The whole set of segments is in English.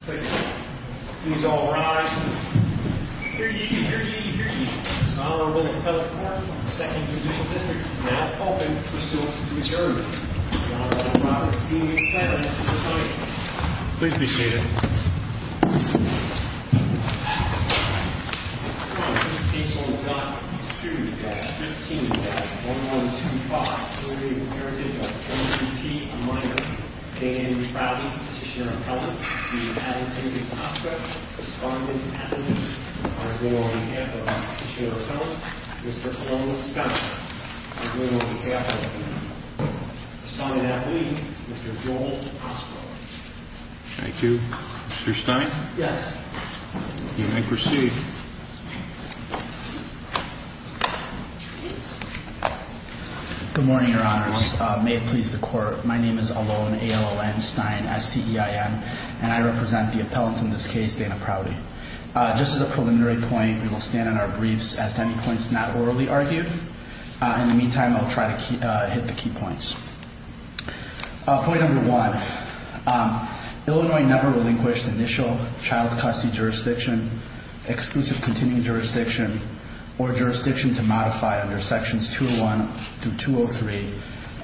Please all rise. Hear ye, hear ye, hear ye. Son of William Pellet Park, 2nd Judicial District, is now open for suit to adjourn. The Honorable Robert D. Pellet, your time is up. Please be seated. On page 1.2-15-1125, Parentage of M.E.P., a minor. Dan Crowley, Petitioner of Appellant. Dean Adam Tinkins-Oscar. Respondent, Appellant. I go on behalf of Petitioner of Appellant, Mr. Columbus Scott. I go on behalf of Appellant. Respondent, Appellant. Mr. Joel Oscar. Thank you. Mr. Stein? Yes. You may proceed. Good morning, Your Honors. May it please the Court. My name is Alon Stein, S-T-E-I-N, and I represent the appellant in this case, Dana Prouty. Just as a preliminary point, we will stand on our briefs. Ask any points not orally argued. In the meantime, I'll try to hit the key points. Point number one. Illinois never relinquished initial child custody jurisdiction, exclusive continuing jurisdiction, or jurisdiction to modify under Sections 201 through 203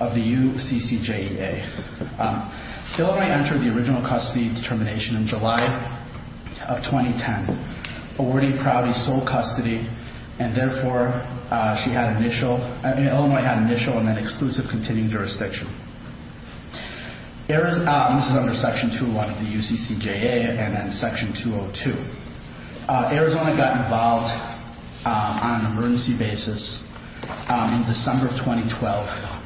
of the UCCJEA. Illinois entered the original custody determination in July of 2010, awarding Prouty sole custody, and therefore, she had initial, Illinois had initial and then exclusive continuing jurisdiction. This is under Section 201 of the UCCJEA and then Section 202. Arizona got involved on an emergency basis in December of 2012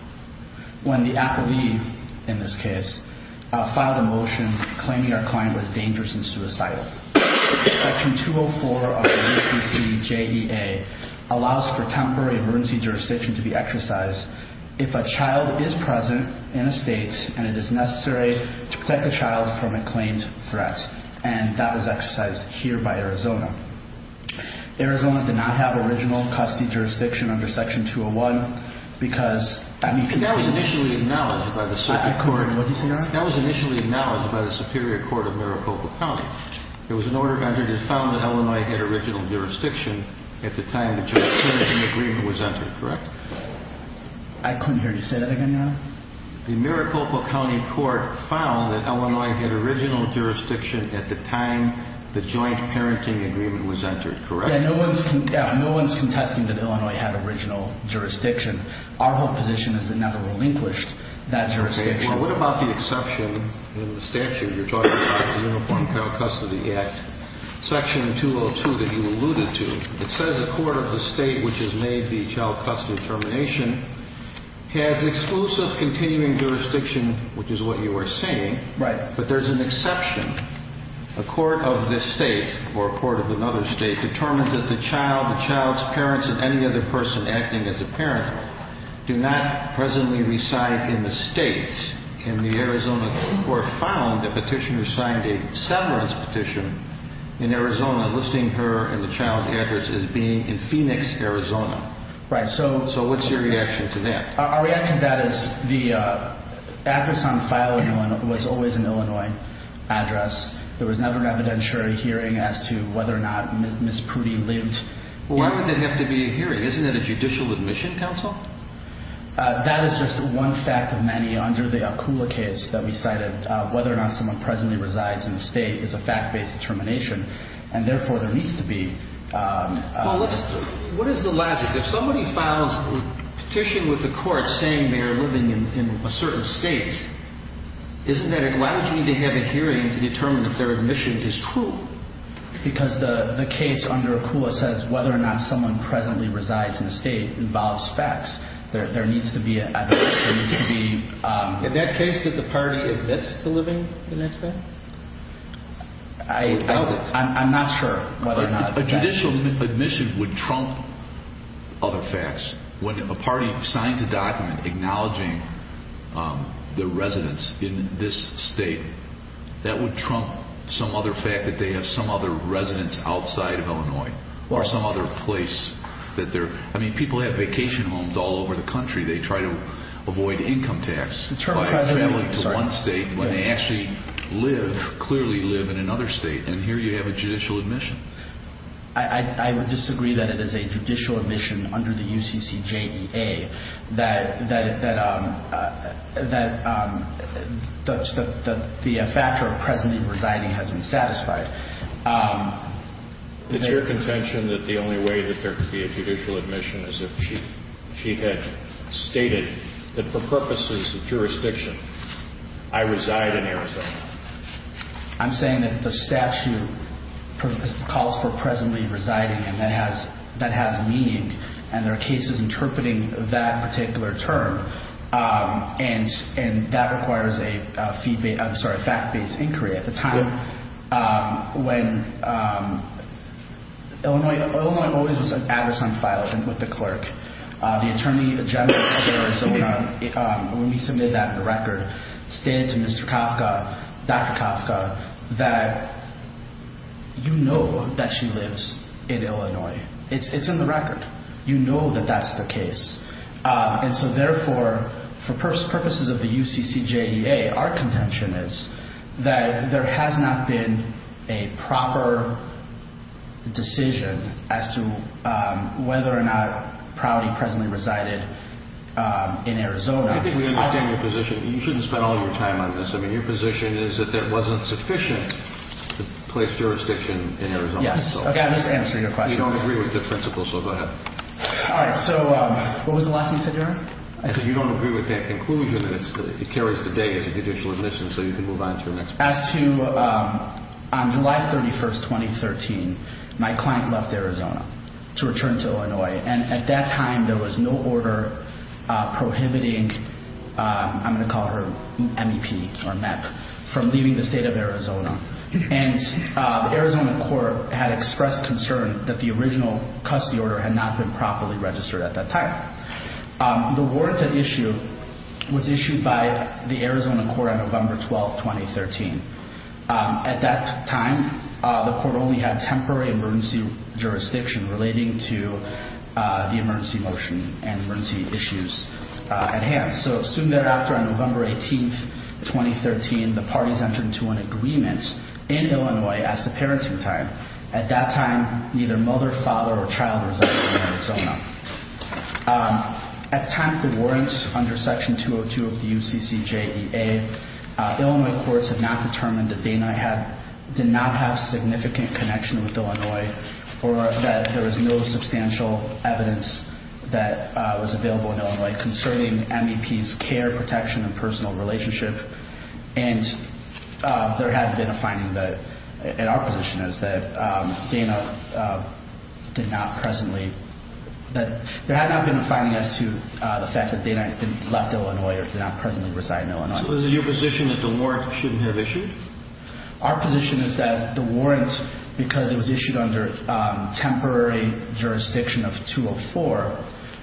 when the appellee, in this case, filed a motion claiming our client was dangerous and suicidal. Section 204 of the UCCJEA allows for temporary emergency jurisdiction to be exercised if a child is present in a state and it is necessary to protect a child from a claimed threat. And that was exercised here by Arizona. Arizona did not have original custody jurisdiction under Section 201 because that means... That was initially acknowledged by the... What did you say, Your Honor? That was initially acknowledged by the Superior Court of Maricopa County. There was an order entered that found that Illinois had original jurisdiction at the time the jurisdiction agreement was entered, correct? I couldn't hear you say that again, Your Honor. The Maricopa County Court found that Illinois had original jurisdiction at the time the joint parenting agreement was entered, correct? Yeah, no one's contesting that Illinois had original jurisdiction. Our whole position is it never relinquished that jurisdiction. Okay, well, what about the exception in the statute? You're talking about the Uniform Child Custody Act. Section 202 that you alluded to, it says a court of the state which has made the child custody determination has exclusive continuing jurisdiction, which is what you were saying. Right. But there's an exception. A court of this state or a court of another state determines that the child, the child's parents, and any other person acting as a parent do not presently reside in the state in the Arizona court found the petitioner signed a severance petition in Arizona listing her and the child's address as being in Phoenix, Arizona. Right. So what's your reaction to that? Our reaction to that is the address on file in Illinois was always an Illinois address. There was never an evidentiary hearing as to whether or not Ms. Prudy lived. Why would there have to be a hearing? Isn't that a judicial admission, counsel? That is just one fact of many under the Akula case that we cited. Whether or not someone presently resides in the state is a fact-based determination, and therefore there needs to be... What is the logic? If somebody files a petition with the court saying they are living in a certain state, isn't that allowing them to have a hearing to determine if their admission is true? Because the case under Akula says whether or not someone presently resides in a state involves facts. There needs to be evidence. There needs to be... In that case, did the party admit to living in that state? I'm not sure whether or not... A judicial admission would trump other facts. When a party signs a document acknowledging their residence in this state, that would trump some other fact that they have some other residence outside of Illinois or some other place that they're... I mean, people have vacation homes all over the country. They try to avoid income tax by traveling to one state when they actually clearly live in another state, and here you have a judicial admission. I would disagree that it is a judicial admission under the UCCJEA that the factor of presently residing has been satisfied. It's your contention that the only way that there could be a judicial admission is if she had stated that for purposes of jurisdiction, I reside in Arizona. I'm saying that the statute calls for presently residing, and that has meaning, and there are cases interpreting that particular term, and that requires a fact-based inquiry at the time. Illinois always was an address on file with the clerk. The attorney general of Arizona, when we submitted that record, stated to Mr. Kafka, Dr. Kafka, that you know that she lives in Illinois. It's in the record. You know that that's the case. And so therefore, for purposes of the UCCJEA, our contention is that there has not been a proper decision as to whether or not Prouty presently resided in Arizona. I think we understand your position. You shouldn't spend all your time on this. I mean, your position is that there wasn't sufficient place jurisdiction in Arizona. Yes. Okay, I'm just answering your question. We don't agree with the principle, so go ahead. All right. So what was the last thing you said, Your Honor? I said you don't agree with that conclusion, and it carries today as a judicial admission, so you can move on to the next part. As to July 31, 2013, my client left Arizona to return to Illinois, and at that time there was no order prohibiting, I'm going to call her MEP or MEP, from leaving the state of Arizona. And the Arizona court had expressed concern that the original custody order had not been properly registered at that time. The warranted issue was issued by the Arizona court on November 12, 2013. At that time, the court only had temporary emergency jurisdiction relating to the emergency motion and emergency issues at hand. So soon thereafter, on November 18, 2013, the parties entered into an agreement in Illinois as to parenting time. At that time, neither mother, father, or child resided in Arizona. At the time of the warrants under Section 202 of the UCCJDA, Illinois courts had not determined that Dana did not have significant connection with Illinois or that there was no substantial evidence that was available in Illinois concerning MEP's care, protection, and personal relationship. And there had been a finding that, and our position is that Dana did not presently, that there had not been a finding as to the fact that Dana had left Illinois or did not presently reside in Illinois. So is it your position that the warrant shouldn't have issued? Our position is that the warrant, because it was issued under temporary jurisdiction of 204,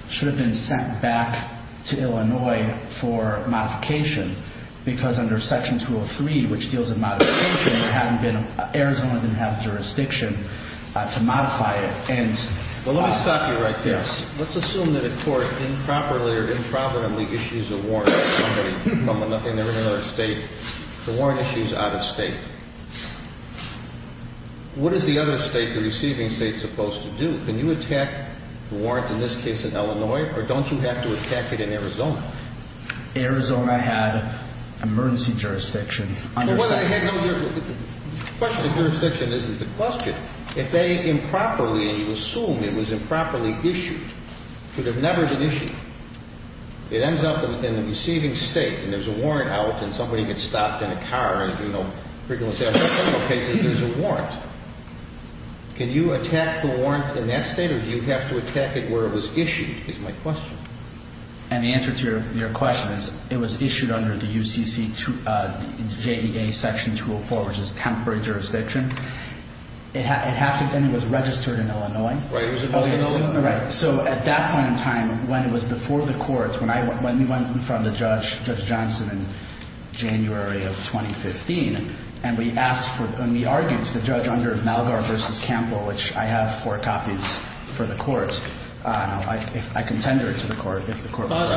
should have been sent back to Illinois for modification because under Section 203, which deals with modification, Arizona didn't have jurisdiction to modify it. Well, let me stop you right there. Let's assume that a court improperly or improperly issues a warrant to somebody in another state. The warrant issue is out of state. What is the other state, the receiving state, supposed to do? Can you attack the warrant, in this case in Illinois, or don't you have to attack it in Arizona? Arizona had emergency jurisdiction under Section 203. The question of jurisdiction isn't the question. If they improperly, and you assume it was improperly issued, it should have never been issued. It ends up in the receiving state, and there's a warrant out, and somebody gets stopped in a car and do no frivolous acts of criminal cases, there's a warrant. Can you attack the warrant in that state, or do you have to attack it where it was issued, is my question. And the answer to your question is, it was issued under the UCC, JEA Section 204, which is temporary jurisdiction. It had to have been, it was registered in Illinois. Right, it was in Illinois. So at that point in time, when it was before the courts, when we went in front of Judge Johnson in January of 2015, and we argued to the judge under Malgar v. Campbell, which I have four copies for the courts. I can tender it to the court if the court wants.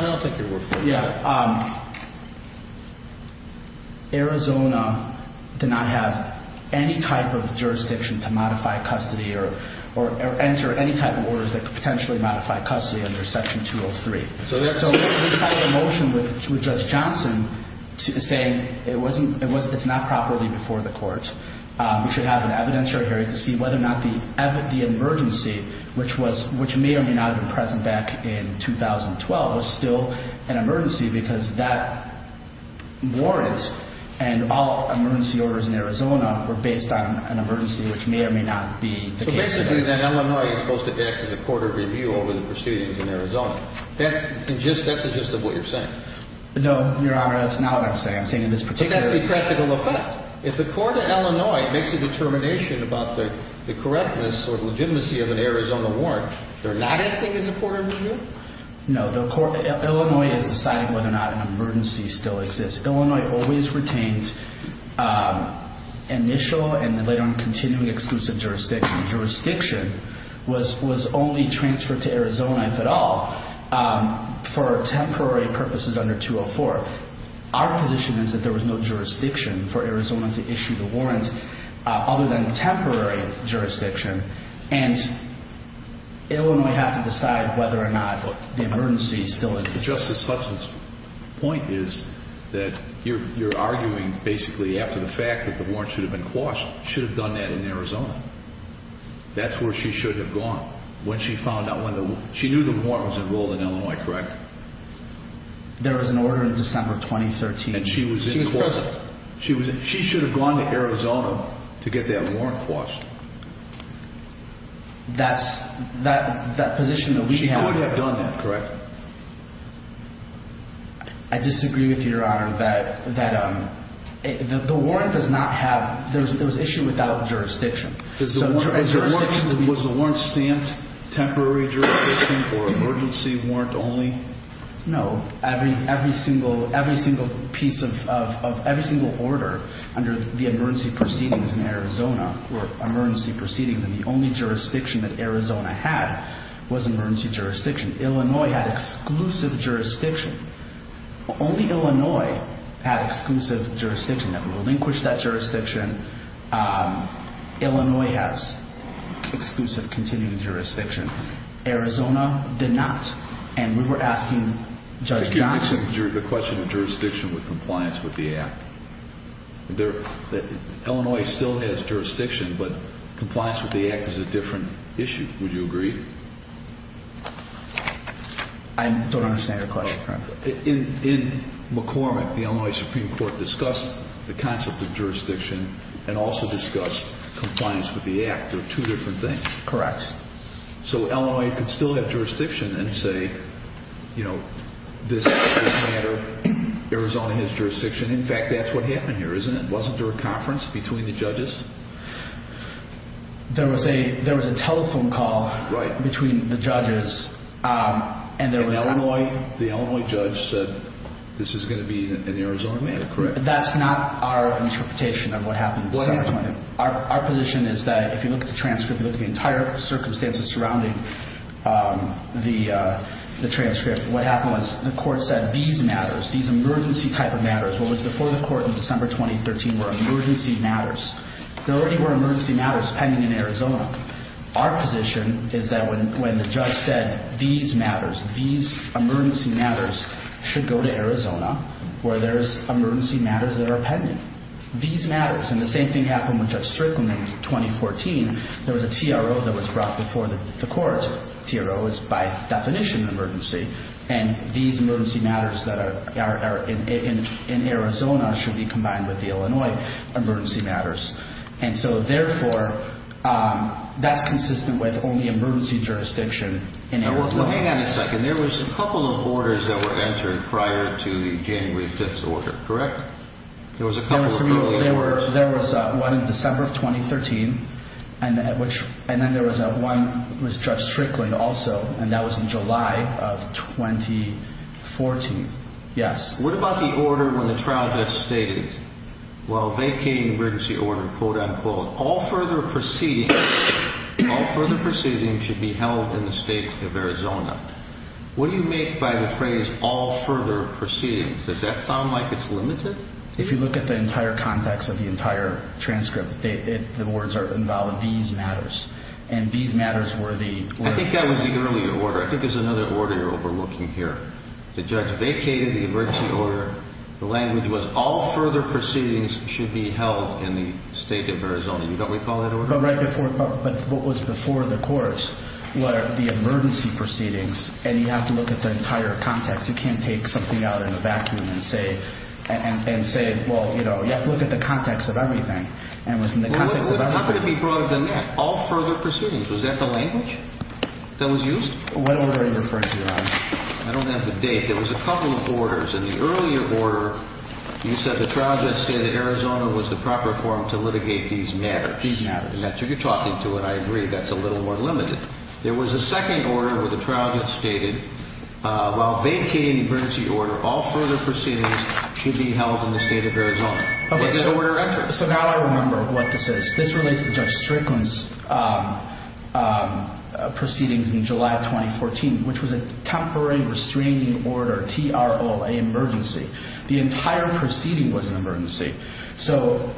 Arizona did not have any type of jurisdiction to modify custody, or enter any type of orders that could potentially modify custody under Section 203. So we filed a motion with Judge Johnson saying it's not properly before the courts. We should have an evidentiary hearing to see whether or not the emergency, which may or may not have been present back in 2012, was still an emergency, because that warrant and all emergency orders in Arizona were based on an emergency, which may or may not be the case today. So basically then Illinois is supposed to act as a court of review over the proceedings in Arizona. That's the gist of what you're saying. No, Your Honor, that's not what I'm saying. I'm saying in this particular case. But that's the practical effect. If the court in Illinois makes a determination about the correctness or legitimacy of an Arizona warrant, they're not acting as a court of review? No. Illinois is deciding whether or not an emergency still exists. Illinois always retains initial and then later on continuing exclusive jurisdiction. Jurisdiction was only transferred to Arizona, if at all, for temporary purposes under 204. Our position is that there was no jurisdiction for Arizona to issue the warrant other than temporary jurisdiction, and Illinois had to decide whether or not the emergency still existed. Justice Slepsin's point is that you're arguing basically after the fact that the warrant should have been quashed, should have done that in Arizona. That's where she should have gone when she found out when the warrant was enrolled in Illinois, correct? There was an order in December of 2013. And she was in the closet. She was present. She should have gone to Arizona to get that warrant quashed. That position that we have. She could have done that, correct? I disagree with you, Your Honor, that the warrant does not have – it was issued without jurisdiction. Was the warrant stamped temporary jurisdiction or emergency warrant only? No. Every single piece of – every single order under the emergency proceedings in Arizona were emergency proceedings, and the only jurisdiction that Arizona had was emergency jurisdiction. Illinois had exclusive jurisdiction. Only Illinois had exclusive jurisdiction. That would relinquish that jurisdiction. Illinois has exclusive continuing jurisdiction. Arizona did not. And we were asking Judge Johnson – The question of jurisdiction with compliance with the Act. Illinois still has jurisdiction, but compliance with the Act is a different issue. I don't understand your question, Your Honor. In McCormick, the Illinois Supreme Court discussed the concept of jurisdiction and also discussed compliance with the Act are two different things. Correct. So Illinois could still have jurisdiction and say, you know, this matter, Arizona has jurisdiction. In fact, that's what happened here, isn't it? Wasn't there a conference between the judges? There was a telephone call between the judges, and there was – The Illinois judge said this is going to be an Arizona matter, correct? That's not our interpretation of what happened in December 2013. What happened? Our position is that if you look at the transcript, you look at the entire circumstances surrounding the transcript, what happened was the court said these matters, these emergency type of matters, what was before the court in December 2013 were emergency matters. There already were emergency matters pending in Arizona. Our position is that when the judge said these matters, these emergency matters, should go to Arizona where there's emergency matters that are pending. These matters. And the same thing happened with Judge Strickland in 2014. There was a TRO that was brought before the court. TRO is by definition emergency, and these emergency matters that are in Arizona should be combined with the Illinois emergency matters. And so, therefore, that's consistent with only emergency jurisdiction in Arizona. Now, hang on a second. There was a couple of orders that were entered prior to the January 5th order, correct? There was a couple of early orders. There was one in December of 2013, and then there was one with Judge Strickland also, and that was in July of 2014, yes. What about the order when the trial judge stated, well, vacating the emergency order, quote, unquote, all further proceedings should be held in the state of Arizona. What do you make by the phrase all further proceedings? Does that sound like it's limited? If you look at the entire context of the entire transcript, the words are invalid, these matters. And these matters were the— I think that was the earlier order. I think there's another order you're overlooking here. The judge vacated the emergency order. The language was all further proceedings should be held in the state of Arizona. You know what we call that order? But right before—but what was before the courts were the emergency proceedings, and you have to look at the entire context. You can't take something out in a vacuum and say—and say, well, you know, you have to look at the context of everything. And within the context of— How could it be broader than that? What order are you referring to, Your Honor? I don't have the date. There was a couple of orders. In the earlier order, you said the trial judge stated Arizona was the proper forum to litigate these matters. These matters. And that's what you're talking to, and I agree that's a little more limited. There was a second order where the trial judge stated, while vacating the emergency order, all further proceedings should be held in the state of Arizona. Okay, so— And that order entered. So now I remember what this is. This relates to Judge Strickland's proceedings in July of 2014, which was a temporary restraining order, T-R-O-L-A, emergency. The entire proceeding was an emergency. So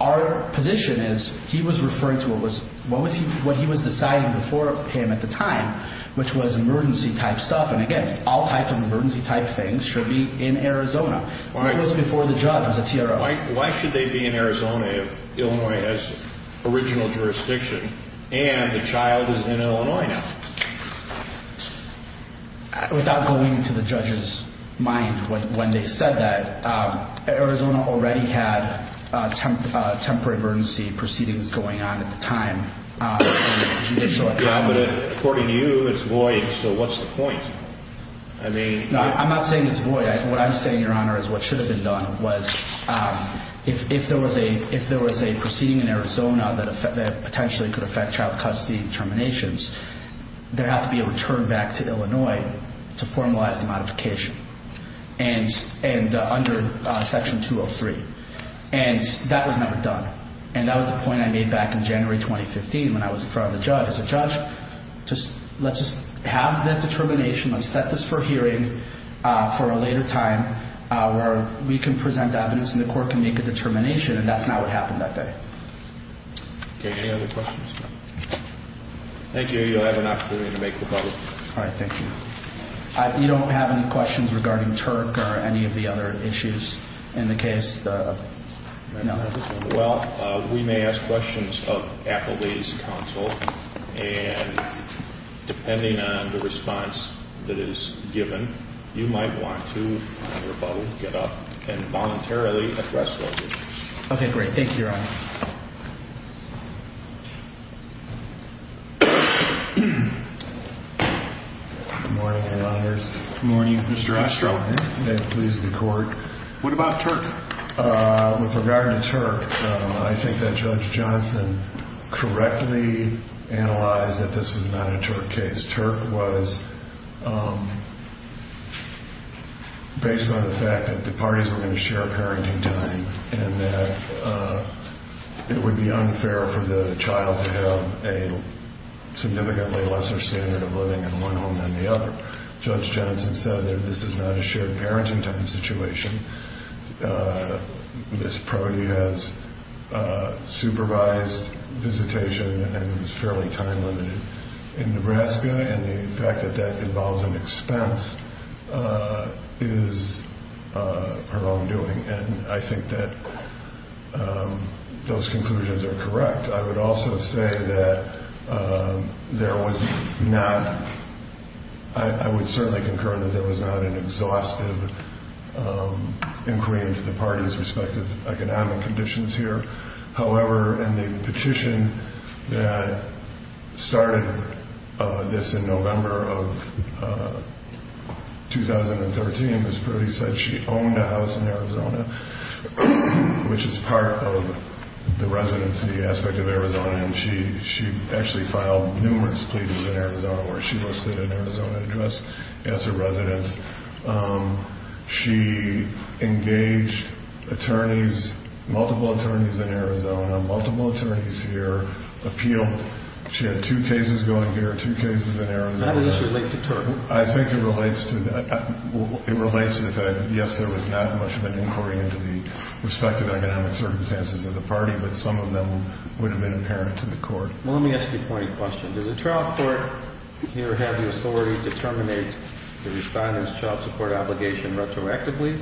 our position is he was referring to what was— what he was deciding before him at the time, which was emergency-type stuff. And again, all types of emergency-type things should be in Arizona. It was before the judge was a T-R-O-L-A. Why should they be in Arizona if Illinois has original jurisdiction and the child is in Illinois now? Without going to the judge's mind when they said that, Arizona already had temporary emergency proceedings going on at the time. Judicial— Yeah, but according to you, it's void, so what's the point? I mean— No, I'm not saying it's void. What I'm saying, Your Honor, is what should have been done was if there was a proceeding in Arizona that potentially could affect child custody terminations, there would have to be a return back to Illinois to formalize the modification and under Section 203. And that was never done. And that was the point I made back in January 2015 when I was in front of the judge. As a judge, let's just have that determination. Let's set this for hearing for a later time where we can present evidence and the court can make a determination, and that's not what happened that day. Okay, any other questions? Thank you. You'll have an opportunity to make rebuttal. All right, thank you. You don't have any questions regarding Turk or any of the other issues in the case? Well, we may ask questions of Appleby's counsel, and depending on the response that is given, you might want to, under rebuttal, get up and voluntarily address those issues. Okay, great. Thank you, Your Honor. Good morning, lawyers. Good morning, Mr. Ostrow. May it please the Court. What about Turk? With regard to Turk, I think that Judge Johnson correctly analyzed that this was not a Turk case. Turk was based on the fact that the parties were going to share parenting time and that it would be unfair for the child to have a significantly lesser standard of living in one home than the other. Judge Johnson said that this is not a shared parenting time situation. Ms. Prodi has supervised visitation and is fairly time limited in Nebraska, and the fact that that involves an expense is her own doing. And I think that those conclusions are correct. I would also say that there was not an exhaustive inquiry into the parties' respective economic conditions here. However, in the petition that started this in November of 2013, Ms. Prodi said she owned a house in Arizona, which is part of the residency aspect of Arizona, and she actually filed numerous pleas in Arizona where she listed an Arizona address as her residence. She engaged attorneys, multiple attorneys in Arizona, multiple attorneys here, appealed. She had two cases going here, two cases in Arizona. How does this relate to Turk? I think it relates to the fact that, yes, there was not much of an inquiry into the respective economic circumstances of the party, but some of them would have been apparent to the Court. Well, let me ask you a point of question. Does the trial court here have the authority to terminate the respondent's child support obligation retroactively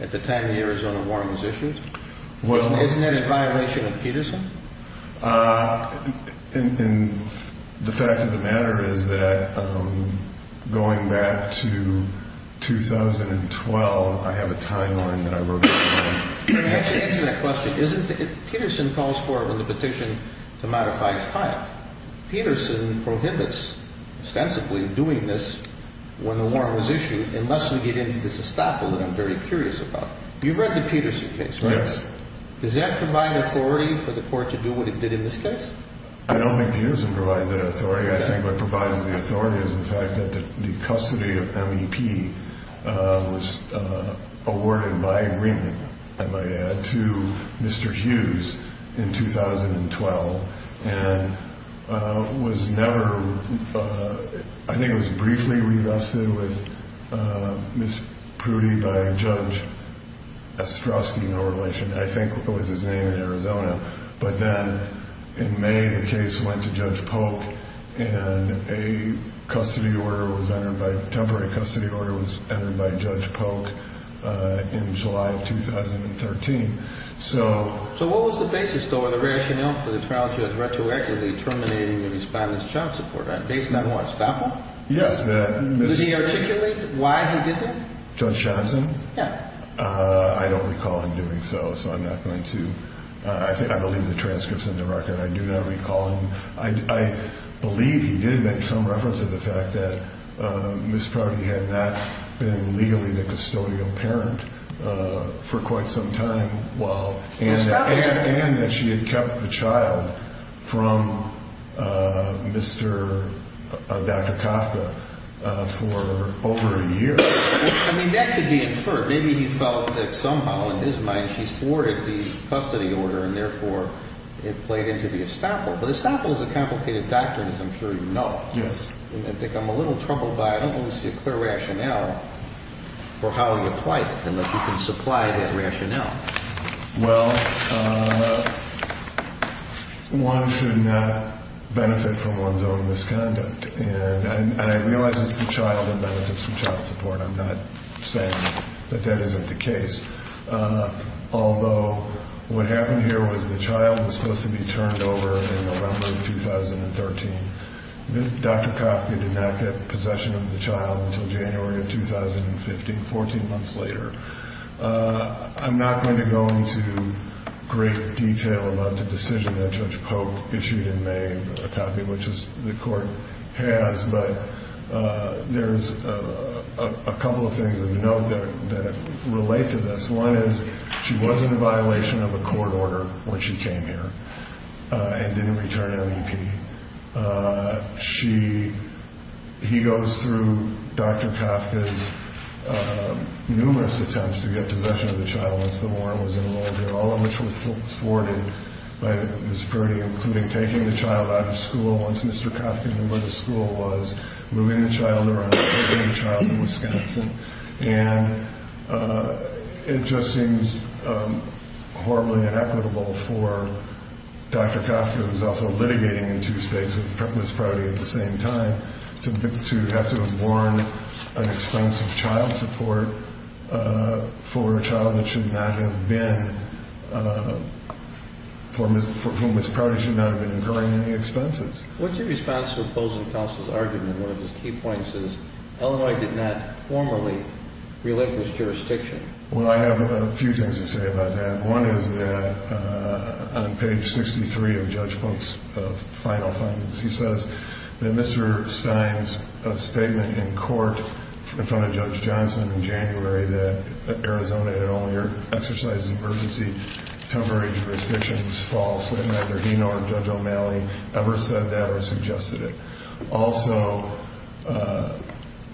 at the time the Arizona war was issued? Isn't that in violation of Peterson? The fact of the matter is that going back to 2012, I have a timeline that I wrote down. To answer that question, Peterson calls for it when the petition to modify is filed. Peterson prohibits ostensibly doing this when the war was issued unless we get into this estoppel that I'm very curious about. You've read the Peterson case, right? Yes. Does that provide authority for the Court to do what it did in this case? I don't think Peterson provides that authority. I think what provides the authority is the fact that the custody of MEP was awarded by agreement, I might add, to Mr. Hughes in 2012 and was never, I think it was briefly revested with Ms. Prudy by Judge Ostrowski, no relation. I think it was his name in Arizona. But then in May, the case went to Judge Polk, and a temporary custody order was entered by Judge Polk in July of 2013. So what was the basis, though, or the rationale for the trial to have retroactively terminated the respondent's child support? Based on what, estoppel? Yes. Did he articulate why he did that? Judge Johnson? Yes. I don't recall him doing so, so I'm not going to. I believe the transcript's in the record. I do not recall him. I believe he did make some reference to the fact that Ms. Prudy had not been legally the custodial parent for quite some time, and that she had kept the child from Dr. Kafka for over a year. I mean, that could be inferred. Maybe he felt that somehow in his mind she thwarted the custody order, and therefore it played into the estoppel. But estoppel is a complicated doctrine, as I'm sure you know. Yes. And I think I'm a little troubled by it. I don't see a clear rationale for how he applied it, unless you can supply that rationale. Well, one should not benefit from one's own misconduct. And I realize it's the child that benefits from child support. I'm not saying that that isn't the case. Although what happened here was the child was supposed to be turned over in November of 2013. Dr. Kafka did not get possession of the child until January of 2015, 14 months later. I'm not going to go into great detail about the decision that Judge Polk issued in May, which the court has, but there's a couple of things of note that relate to this. One is she was in a violation of a court order when she came here and didn't return MEP. He goes through Dr. Kafka's numerous attempts to get possession of the child once the warrant was enrolled, all of which was thwarted by Ms. Brody, including taking the child out of school once Mr. Kafka knew where the school was, moving the child around, taking the child from Wisconsin. And it just seems horribly inequitable for Dr. Kafka, who was also litigating in two states with Ms. Brody at the same time, to have to have borne an expense of child support for a child that should not have been, for whom Ms. Brody should not have been incurring any expenses. What's your response to opposing counsel's argument? One of his key points is Illinois did not formally relinquish jurisdiction. Well, I have a few things to say about that. One is that on page 63 of Judge Polk's final findings, he says that Mr. Stein's statement in court in front of Judge Johnson in January that Arizona had only exercised emergency temporary jurisdictions is false, and neither he nor Judge O'Malley ever said that or suggested it. Also,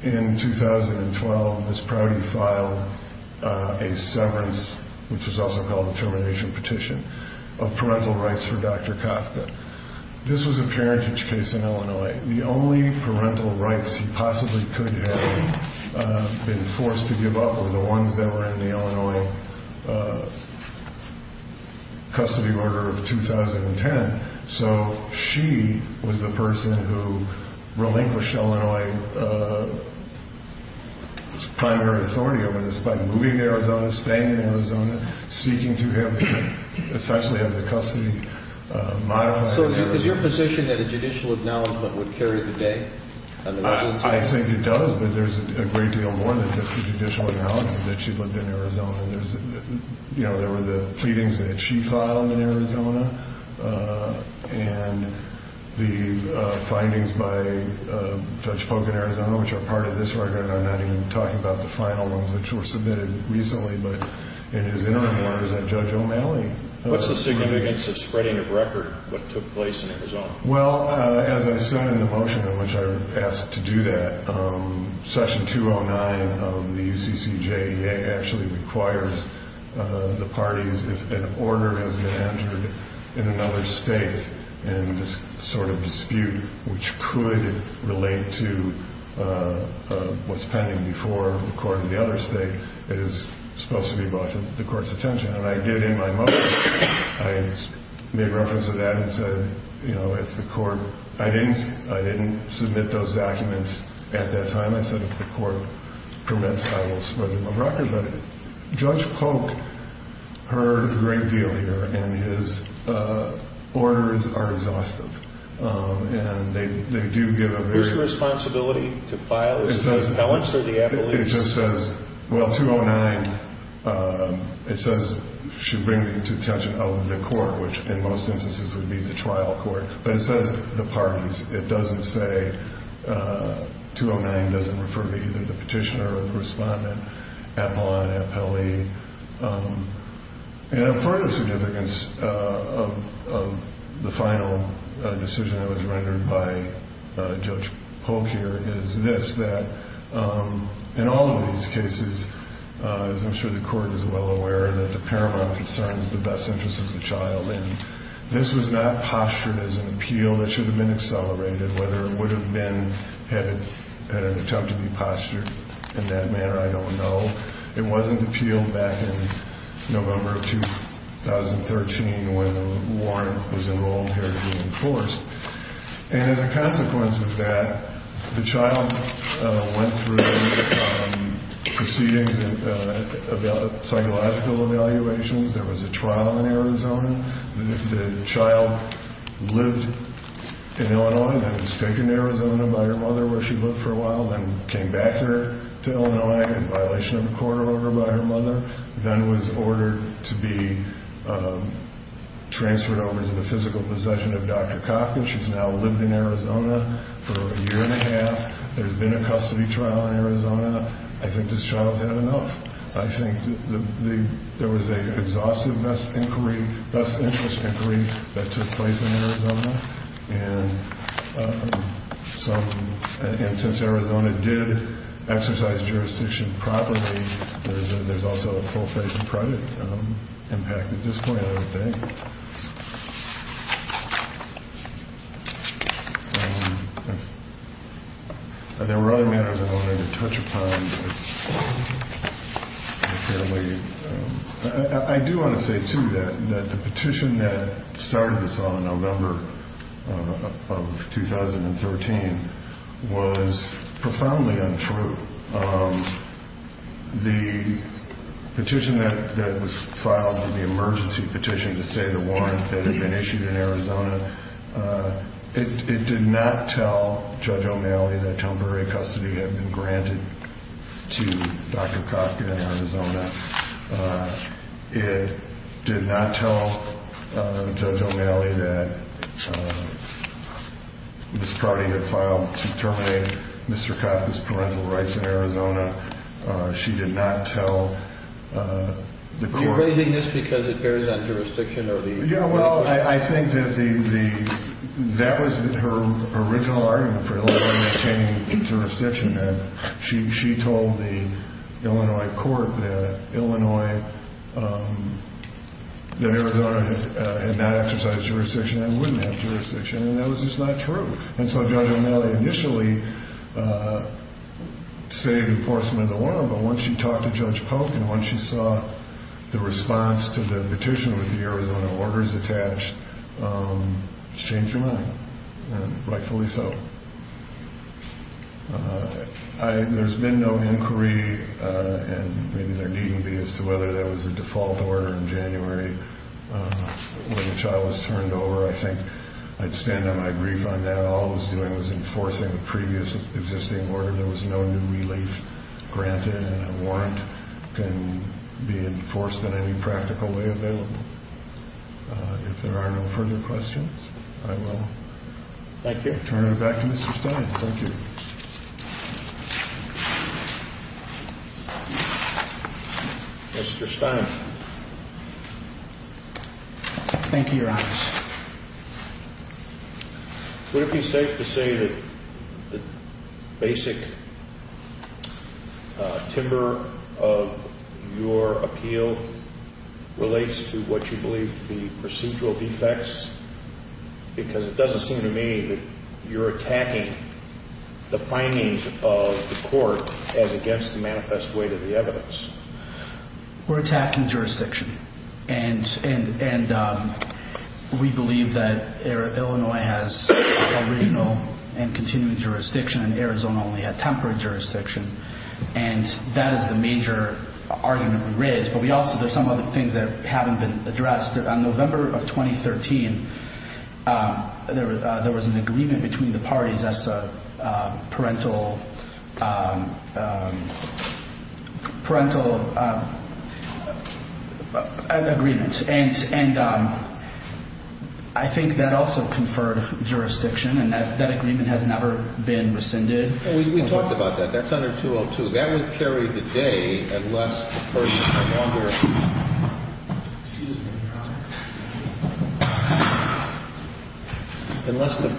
in 2012, Ms. Brody filed a severance, which was also called a termination petition, of parental rights for Dr. Kafka. This was a parentage case in Illinois. The only parental rights he possibly could have been forced to give up were the ones that were in the Illinois custody order of 2010. So she was the person who relinquished Illinois's primary authority over this by moving to Arizona, staying in Arizona, seeking to essentially have the custody modified. So is your position that a judicial acknowledgment would carry the day? I think it does, but there's a great deal more than just the judicial acknowledgments that she lived in Arizona. There were the pleadings that she filed in Arizona and the findings by Judge Polk in Arizona, which are part of this record, and I'm not even talking about the final ones, which were submitted recently, but in his interim orders at Judge O'Malley. What's the significance of spreading of record what took place in Arizona? Well, as I said in the motion in which I was asked to do that, Section 209 of the UCCJ actually requires the parties, if an order has been entered in another state, in this sort of dispute which could relate to what's pending before the court in the other state, it is supposed to be brought to the court's attention. And I did in my motion, I made reference to that and said, you know, if the court, I didn't submit those documents at that time. I said if the court permits, I will spread them of record. Judge Polk heard a great deal here and his orders are exhaustive. And they do give a very- What's the responsibility to file? It says- How much do the appellees- It just says, well, 209, it says should bring it to the attention of the court, which in most instances would be the trial court. But it says the parties. It doesn't say, 209 doesn't refer to either the petitioner or the respondent, appellant, appellee. And part of the significance of the final decision that was rendered by Judge Polk here is this, that in all of these cases, as I'm sure the court is well aware, that the paramount concern is the best interest of the child. And this was not postured as an appeal that should have been accelerated. Whether it would have been had it been an attempt to be postured in that manner, I don't know. It wasn't appealed back in November of 2013 when Warren was enrolled here to be enforced. And as a consequence of that, the child went through the preceding psychological evaluations. There was a trial in Arizona. The child lived in Illinois, then was taken to Arizona by her mother where she lived for a while, then came back here to Illinois in violation of a court order by her mother, then was ordered to be transferred over to the physical possession of Dr. Cochran. She's now lived in Arizona for a year and a half. There's been a custody trial in Arizona. I think this child's had enough. I think there was an exhaustive best interest inquiry that took place in Arizona. And since Arizona did exercise jurisdiction properly, there's also a full-face and private impact at this point, I would think. There were other matters I wanted to touch upon. I do want to say, too, that the petition that started this on November of 2013 was profoundly untrue. The petition that was filed, the emergency petition to stay the warrant that had been issued in Arizona, it did not tell Judge O'Malley that temporary custody had been granted to Dr. Cochran in Arizona. It did not tell Judge O'Malley that this party had filed to terminate Mr. Cochran's parental rights in Arizona. She did not tell the court. You're raising this because it bears on jurisdiction or the... Yeah, well, I think that the... That was her original argument for Illinois maintaining jurisdiction. And she told the Illinois court that Arizona had not exercised jurisdiction and wouldn't have jurisdiction. And that was just not true. And so Judge O'Malley initially stated enforcement of the warrant, but once she talked to Judge Polk and once she saw the response to the petition with the Arizona orders attached, she changed her mind, and rightfully so. There's been no inquiry, and maybe there needn't be, as to whether there was a default order in January which I was turned over. I think I'd stand on my grief on that. All it was doing was enforcing a previous existing order. There was no new relief granted, and a warrant can be enforced in any practical way available. If there are no further questions, I will... Thank you. Okay, turn it back to Mr. Stein. Thank you. Mr. Stein. Thank you, Your Honor. Would it be safe to say that the basic timber of your appeal relates to what you believe to be procedural defects? Because it doesn't seem to me that you're attacking the findings of the court as against the manifest weight of the evidence. We're attacking jurisdiction. And we believe that Illinois has original and continuing jurisdiction, and Arizona only had temporary jurisdiction. And that is the major argument we raise. But we also, there's some other things that haven't been addressed. On November of 2013, there was an agreement between the parties as a parental agreement. And I think that also conferred jurisdiction, and that agreement has never been rescinded. We talked about that. That's under 202. That would carry the day unless the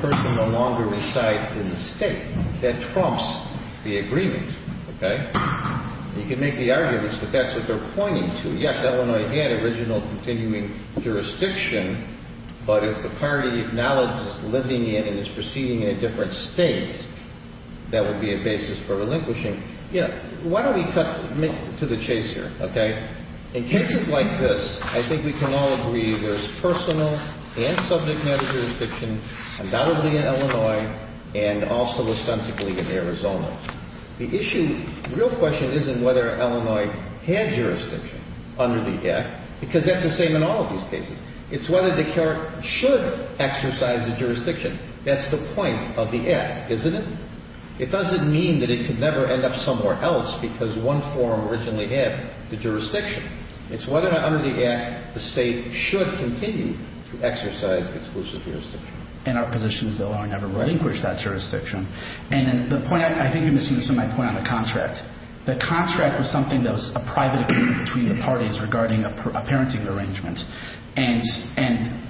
person no longer resides in the state. That trumps the agreement, okay? You can make the arguments, but that's what they're pointing to. Yes, Illinois had original and continuing jurisdiction, but if the party acknowledges living in and is proceeding in different states, that would be a basis for relinquishing. Yeah. Why don't we cut to the chase here, okay? In cases like this, I think we can all agree there's personal and subject matter jurisdiction, undoubtedly in Illinois, and also ostensibly in Arizona. The issue, the real question isn't whether Illinois had jurisdiction under the Act, because that's the same in all of these cases. It's whether the court should exercise the jurisdiction. That's the point of the Act, isn't it? It doesn't mean that it could never end up somewhere else because one forum originally had the jurisdiction. It's whether or not under the Act the state should continue to exercise exclusive jurisdiction. And our position is that Illinois never relinquished that jurisdiction. And the point I think you're missing is my point on the contract. The contract was something that was a private agreement between the parties regarding a parenting arrangement, and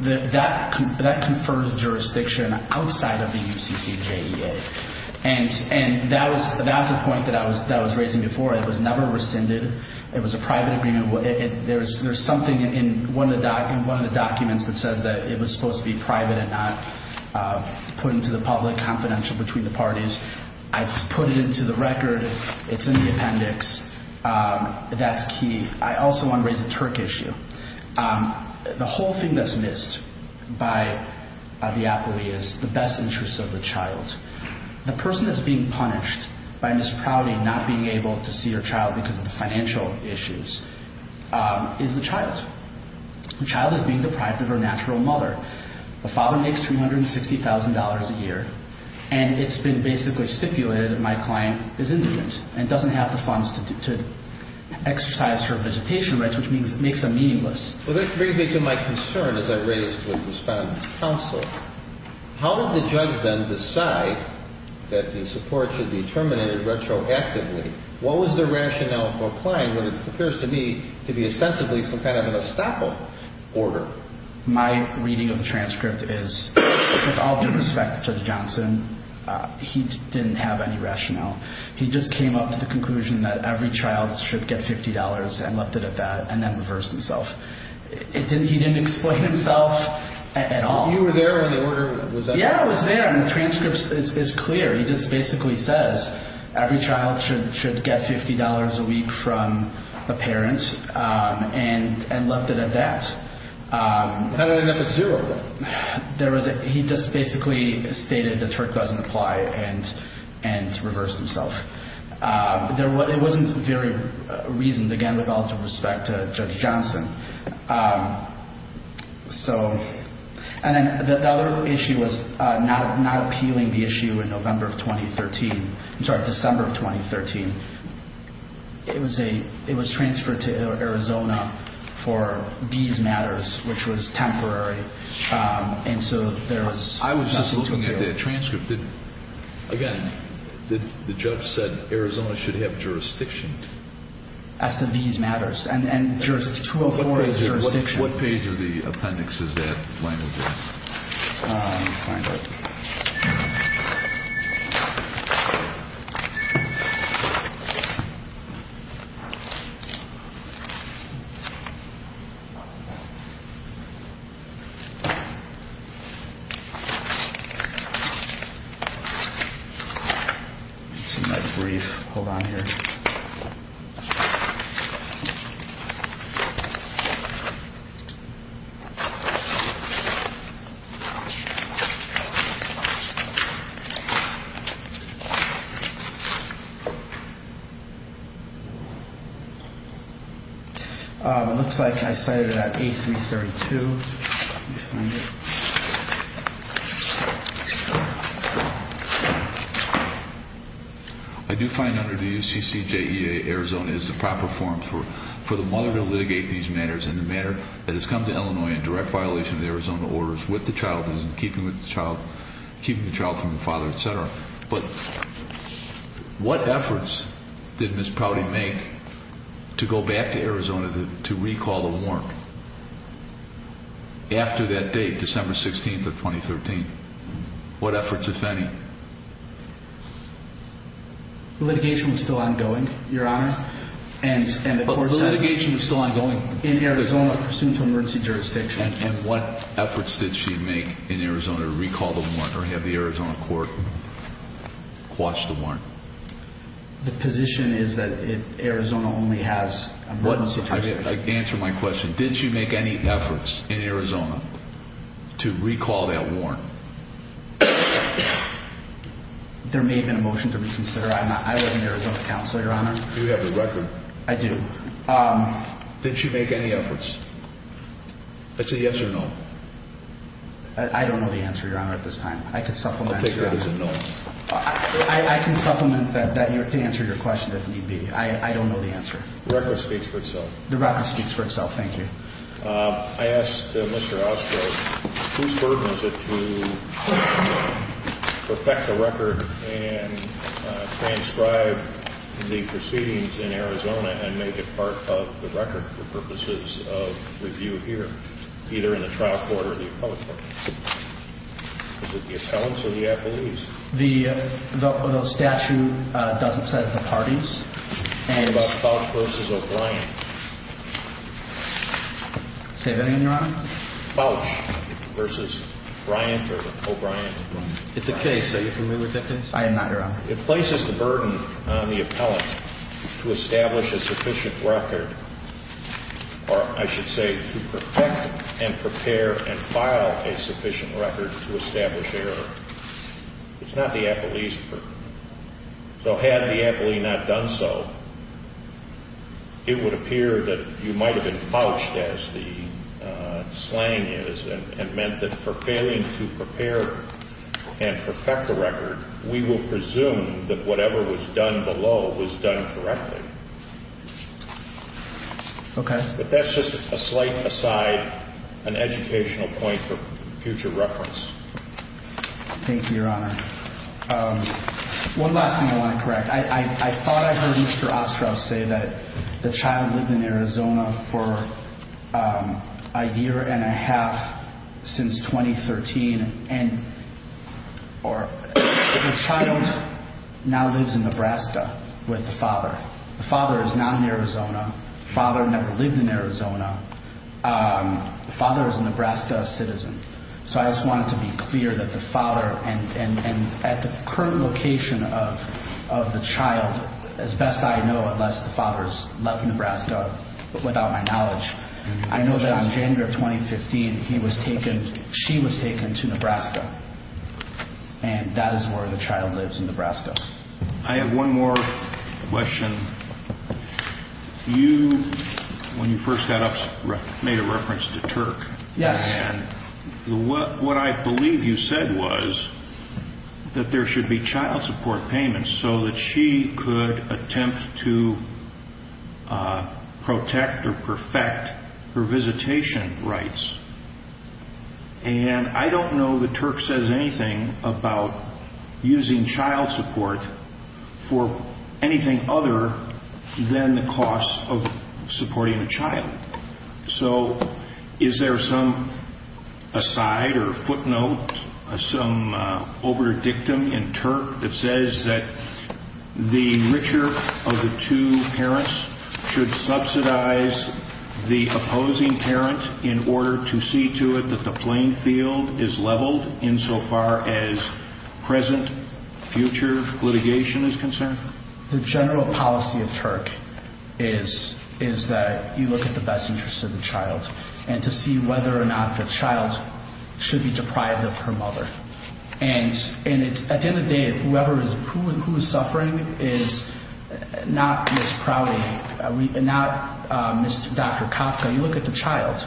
that confers jurisdiction outside of the UCCJEA. And that was a point that I was raising before. It was never rescinded. It was a private agreement. There's something in one of the documents that says that it was supposed to be private and not put into the public confidential between the parties. I've put it into the record. It's in the appendix. That's key. I also want to raise a TURC issue. The whole thing that's missed by a via poli is the best interests of the child. The person that's being punished by Miss Prouty not being able to see her child because of the financial issues is the child. The child is being deprived of her natural mother. The father makes $360,000 a year, and it's been basically stipulated that my client is indigent and doesn't have the funds to exercise her visitation rights, which makes them meaningless. Well, that brings me to my concern, as I raised with Respondent's counsel. How did the judge then decide that the support should be terminated retroactively? What was the rationale for applying when it appears to me to be ostensibly some kind of an estoppel order? My reading of the transcript is, with all due respect to Judge Johnson, he didn't have any rationale. He just came up to the conclusion that every child should get $50 and left it at that and then reversed himself. He didn't explain himself at all. You were there when the order was up? Yeah, I was there, and the transcript is clear. He just basically says every child should get $50 a week from a parent and left it at that. How did it end up at zero? He just basically stated the trick doesn't apply and reversed himself. It wasn't very reasoned, again, with all due respect to Judge Johnson. And then the other issue was not appealing the issue in December of 2013. It was transferred to Arizona for these matters, which was temporary, and so there was not an appeal. I was just looking at that transcript. Again, the judge said Arizona should have jurisdiction. As to these matters, and 204 is jurisdiction. What page of the appendix is that language in? Let me find it. Okay. It's in my brief. Hold on here. It looks like I cited it at 8332. I do find under the UCCJEA, Arizona is the proper forum for the mother to litigate these matters in the manner that has come to Illinois in direct violation of the Arizona orders with the child, in keeping with the child, keeping the child from the father, et cetera. But what efforts did Ms. Prouty make to go back to Arizona to recall the warrant after that date, December 16th of 2013? What efforts, if any? The litigation was still ongoing, Your Honor. But the litigation was still ongoing. In Arizona, pursuant to emergency jurisdiction. And what efforts did she make in Arizona to recall the warrant or have the Arizona court quash the warrant? The position is that Arizona only has emergency jurisdiction. Answer my question. Did she make any efforts in Arizona to recall that warrant? There may have been a motion to reconsider. I was an Arizona counselor, Your Honor. I do. Did she make any efforts? I'd say yes or no. I don't know the answer, Your Honor, at this time. I can supplement, Your Honor. I'll take that as a no. I can supplement that to answer your question, if need be. I don't know the answer. The record speaks for itself. The record speaks for itself. Thank you. I asked Mr. Ostroff, whose burden is it to perfect the record and transcribe the proceedings in Arizona and make it part of the record for purposes of review here, either in the trial court or the appellate court? Is it the appellants or the appellees? The statute doesn't say the parties. What about Fauch v. O'Brien? Say that again, Your Honor? Fauch v. O'Brien. It's a case. Are you familiar with that case? I am not, Your Honor. It places the burden on the appellant to establish a sufficient record or, I should say, to perfect and prepare and file a sufficient record to establish error. It's not the appellee's burden. So had the appellee not done so, it would appear that you might have been Fauched, as the slang is, and meant that for failing to prepare and perfect the record, we will presume that whatever was done below was done correctly. Okay. But that's just a slight aside, an educational point for future reference. Thank you, Your Honor. One last thing I want to correct. I thought I heard Mr. Ostrowski say that the child lived in Arizona for a year and a half since 2013, and the child now lives in Nebraska with the father. The father is now in Arizona. The father never lived in Arizona. The father is a Nebraska citizen. So I just wanted to be clear that the father, and at the current location of the child, as best I know, unless the father is left in Nebraska without my knowledge, I know that on January 2015, he was taken, she was taken to Nebraska. And that is where the child lives in Nebraska. I have one more question. You, when you first got up, made a reference to Turk. Yes. And what I believe you said was that there should be child support payments so that she could attempt to protect or perfect her visitation rights. And I don't know that Turk says anything about using child support for anything other than the cost of supporting a child. So is there some aside or footnote, some overdictum in Turk that says that the richer of the two parents should subsidize the opposing parent in order to see to it that the playing field is leveled insofar as present, future litigation is concerned? The general policy of Turk is that you look at the best interest of the child and to see whether or not the child should be deprived of her mother. And at the end of the day, whoever is, who is suffering is not Ms. Prouty, not Dr. Kafka. You look at the child.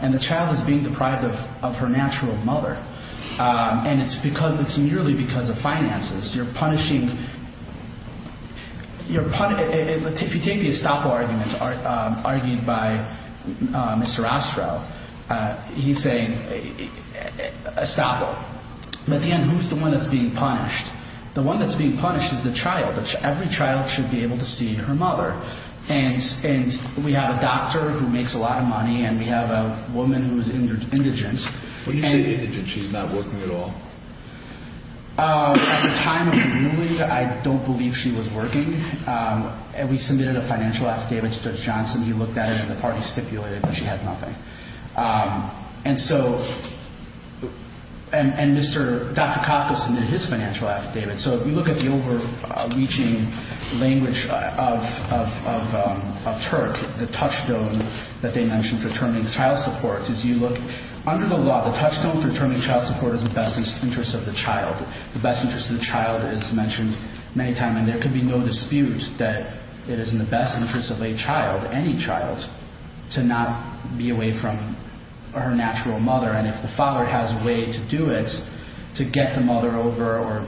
And the child is being deprived of her natural mother. And it's because, it's nearly because of finances. You're punishing, if you take the estoppel argument argued by Mr. Ostrow, he's saying estoppel. At the end, who's the one that's being punished? The one that's being punished is the child. Every child should be able to see her mother. And we have a doctor who makes a lot of money and we have a woman who's indigent. When you say indigent, she's not working at all? At the time of the ruling, I don't believe she was working. And we submitted a financial affidavit to Judge Johnson. He looked at it and the party stipulated that she has nothing. And so, and Mr. Dr. Kafka submitted his financial affidavit. So if you look at the overreaching language of Turk, the touchstone that they mentioned for determining child support, is you look under the law, the touchstone for determining child support is the best interest of the child. The best interest of the child is mentioned many times. And there could be no dispute that it is in the best interest of a child, any child, to not be away from her natural mother. And if the father has a way to do it, to get the mother over or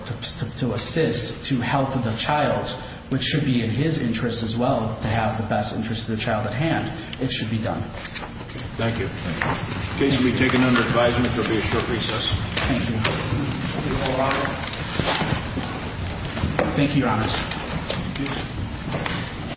to assist, to help the child, which should be in his interest as well to have the best interest of the child at hand, it should be done. Thank you. In case you'll be taken under advisement, there will be a short recess. Thank you. Thank you, Your Honors.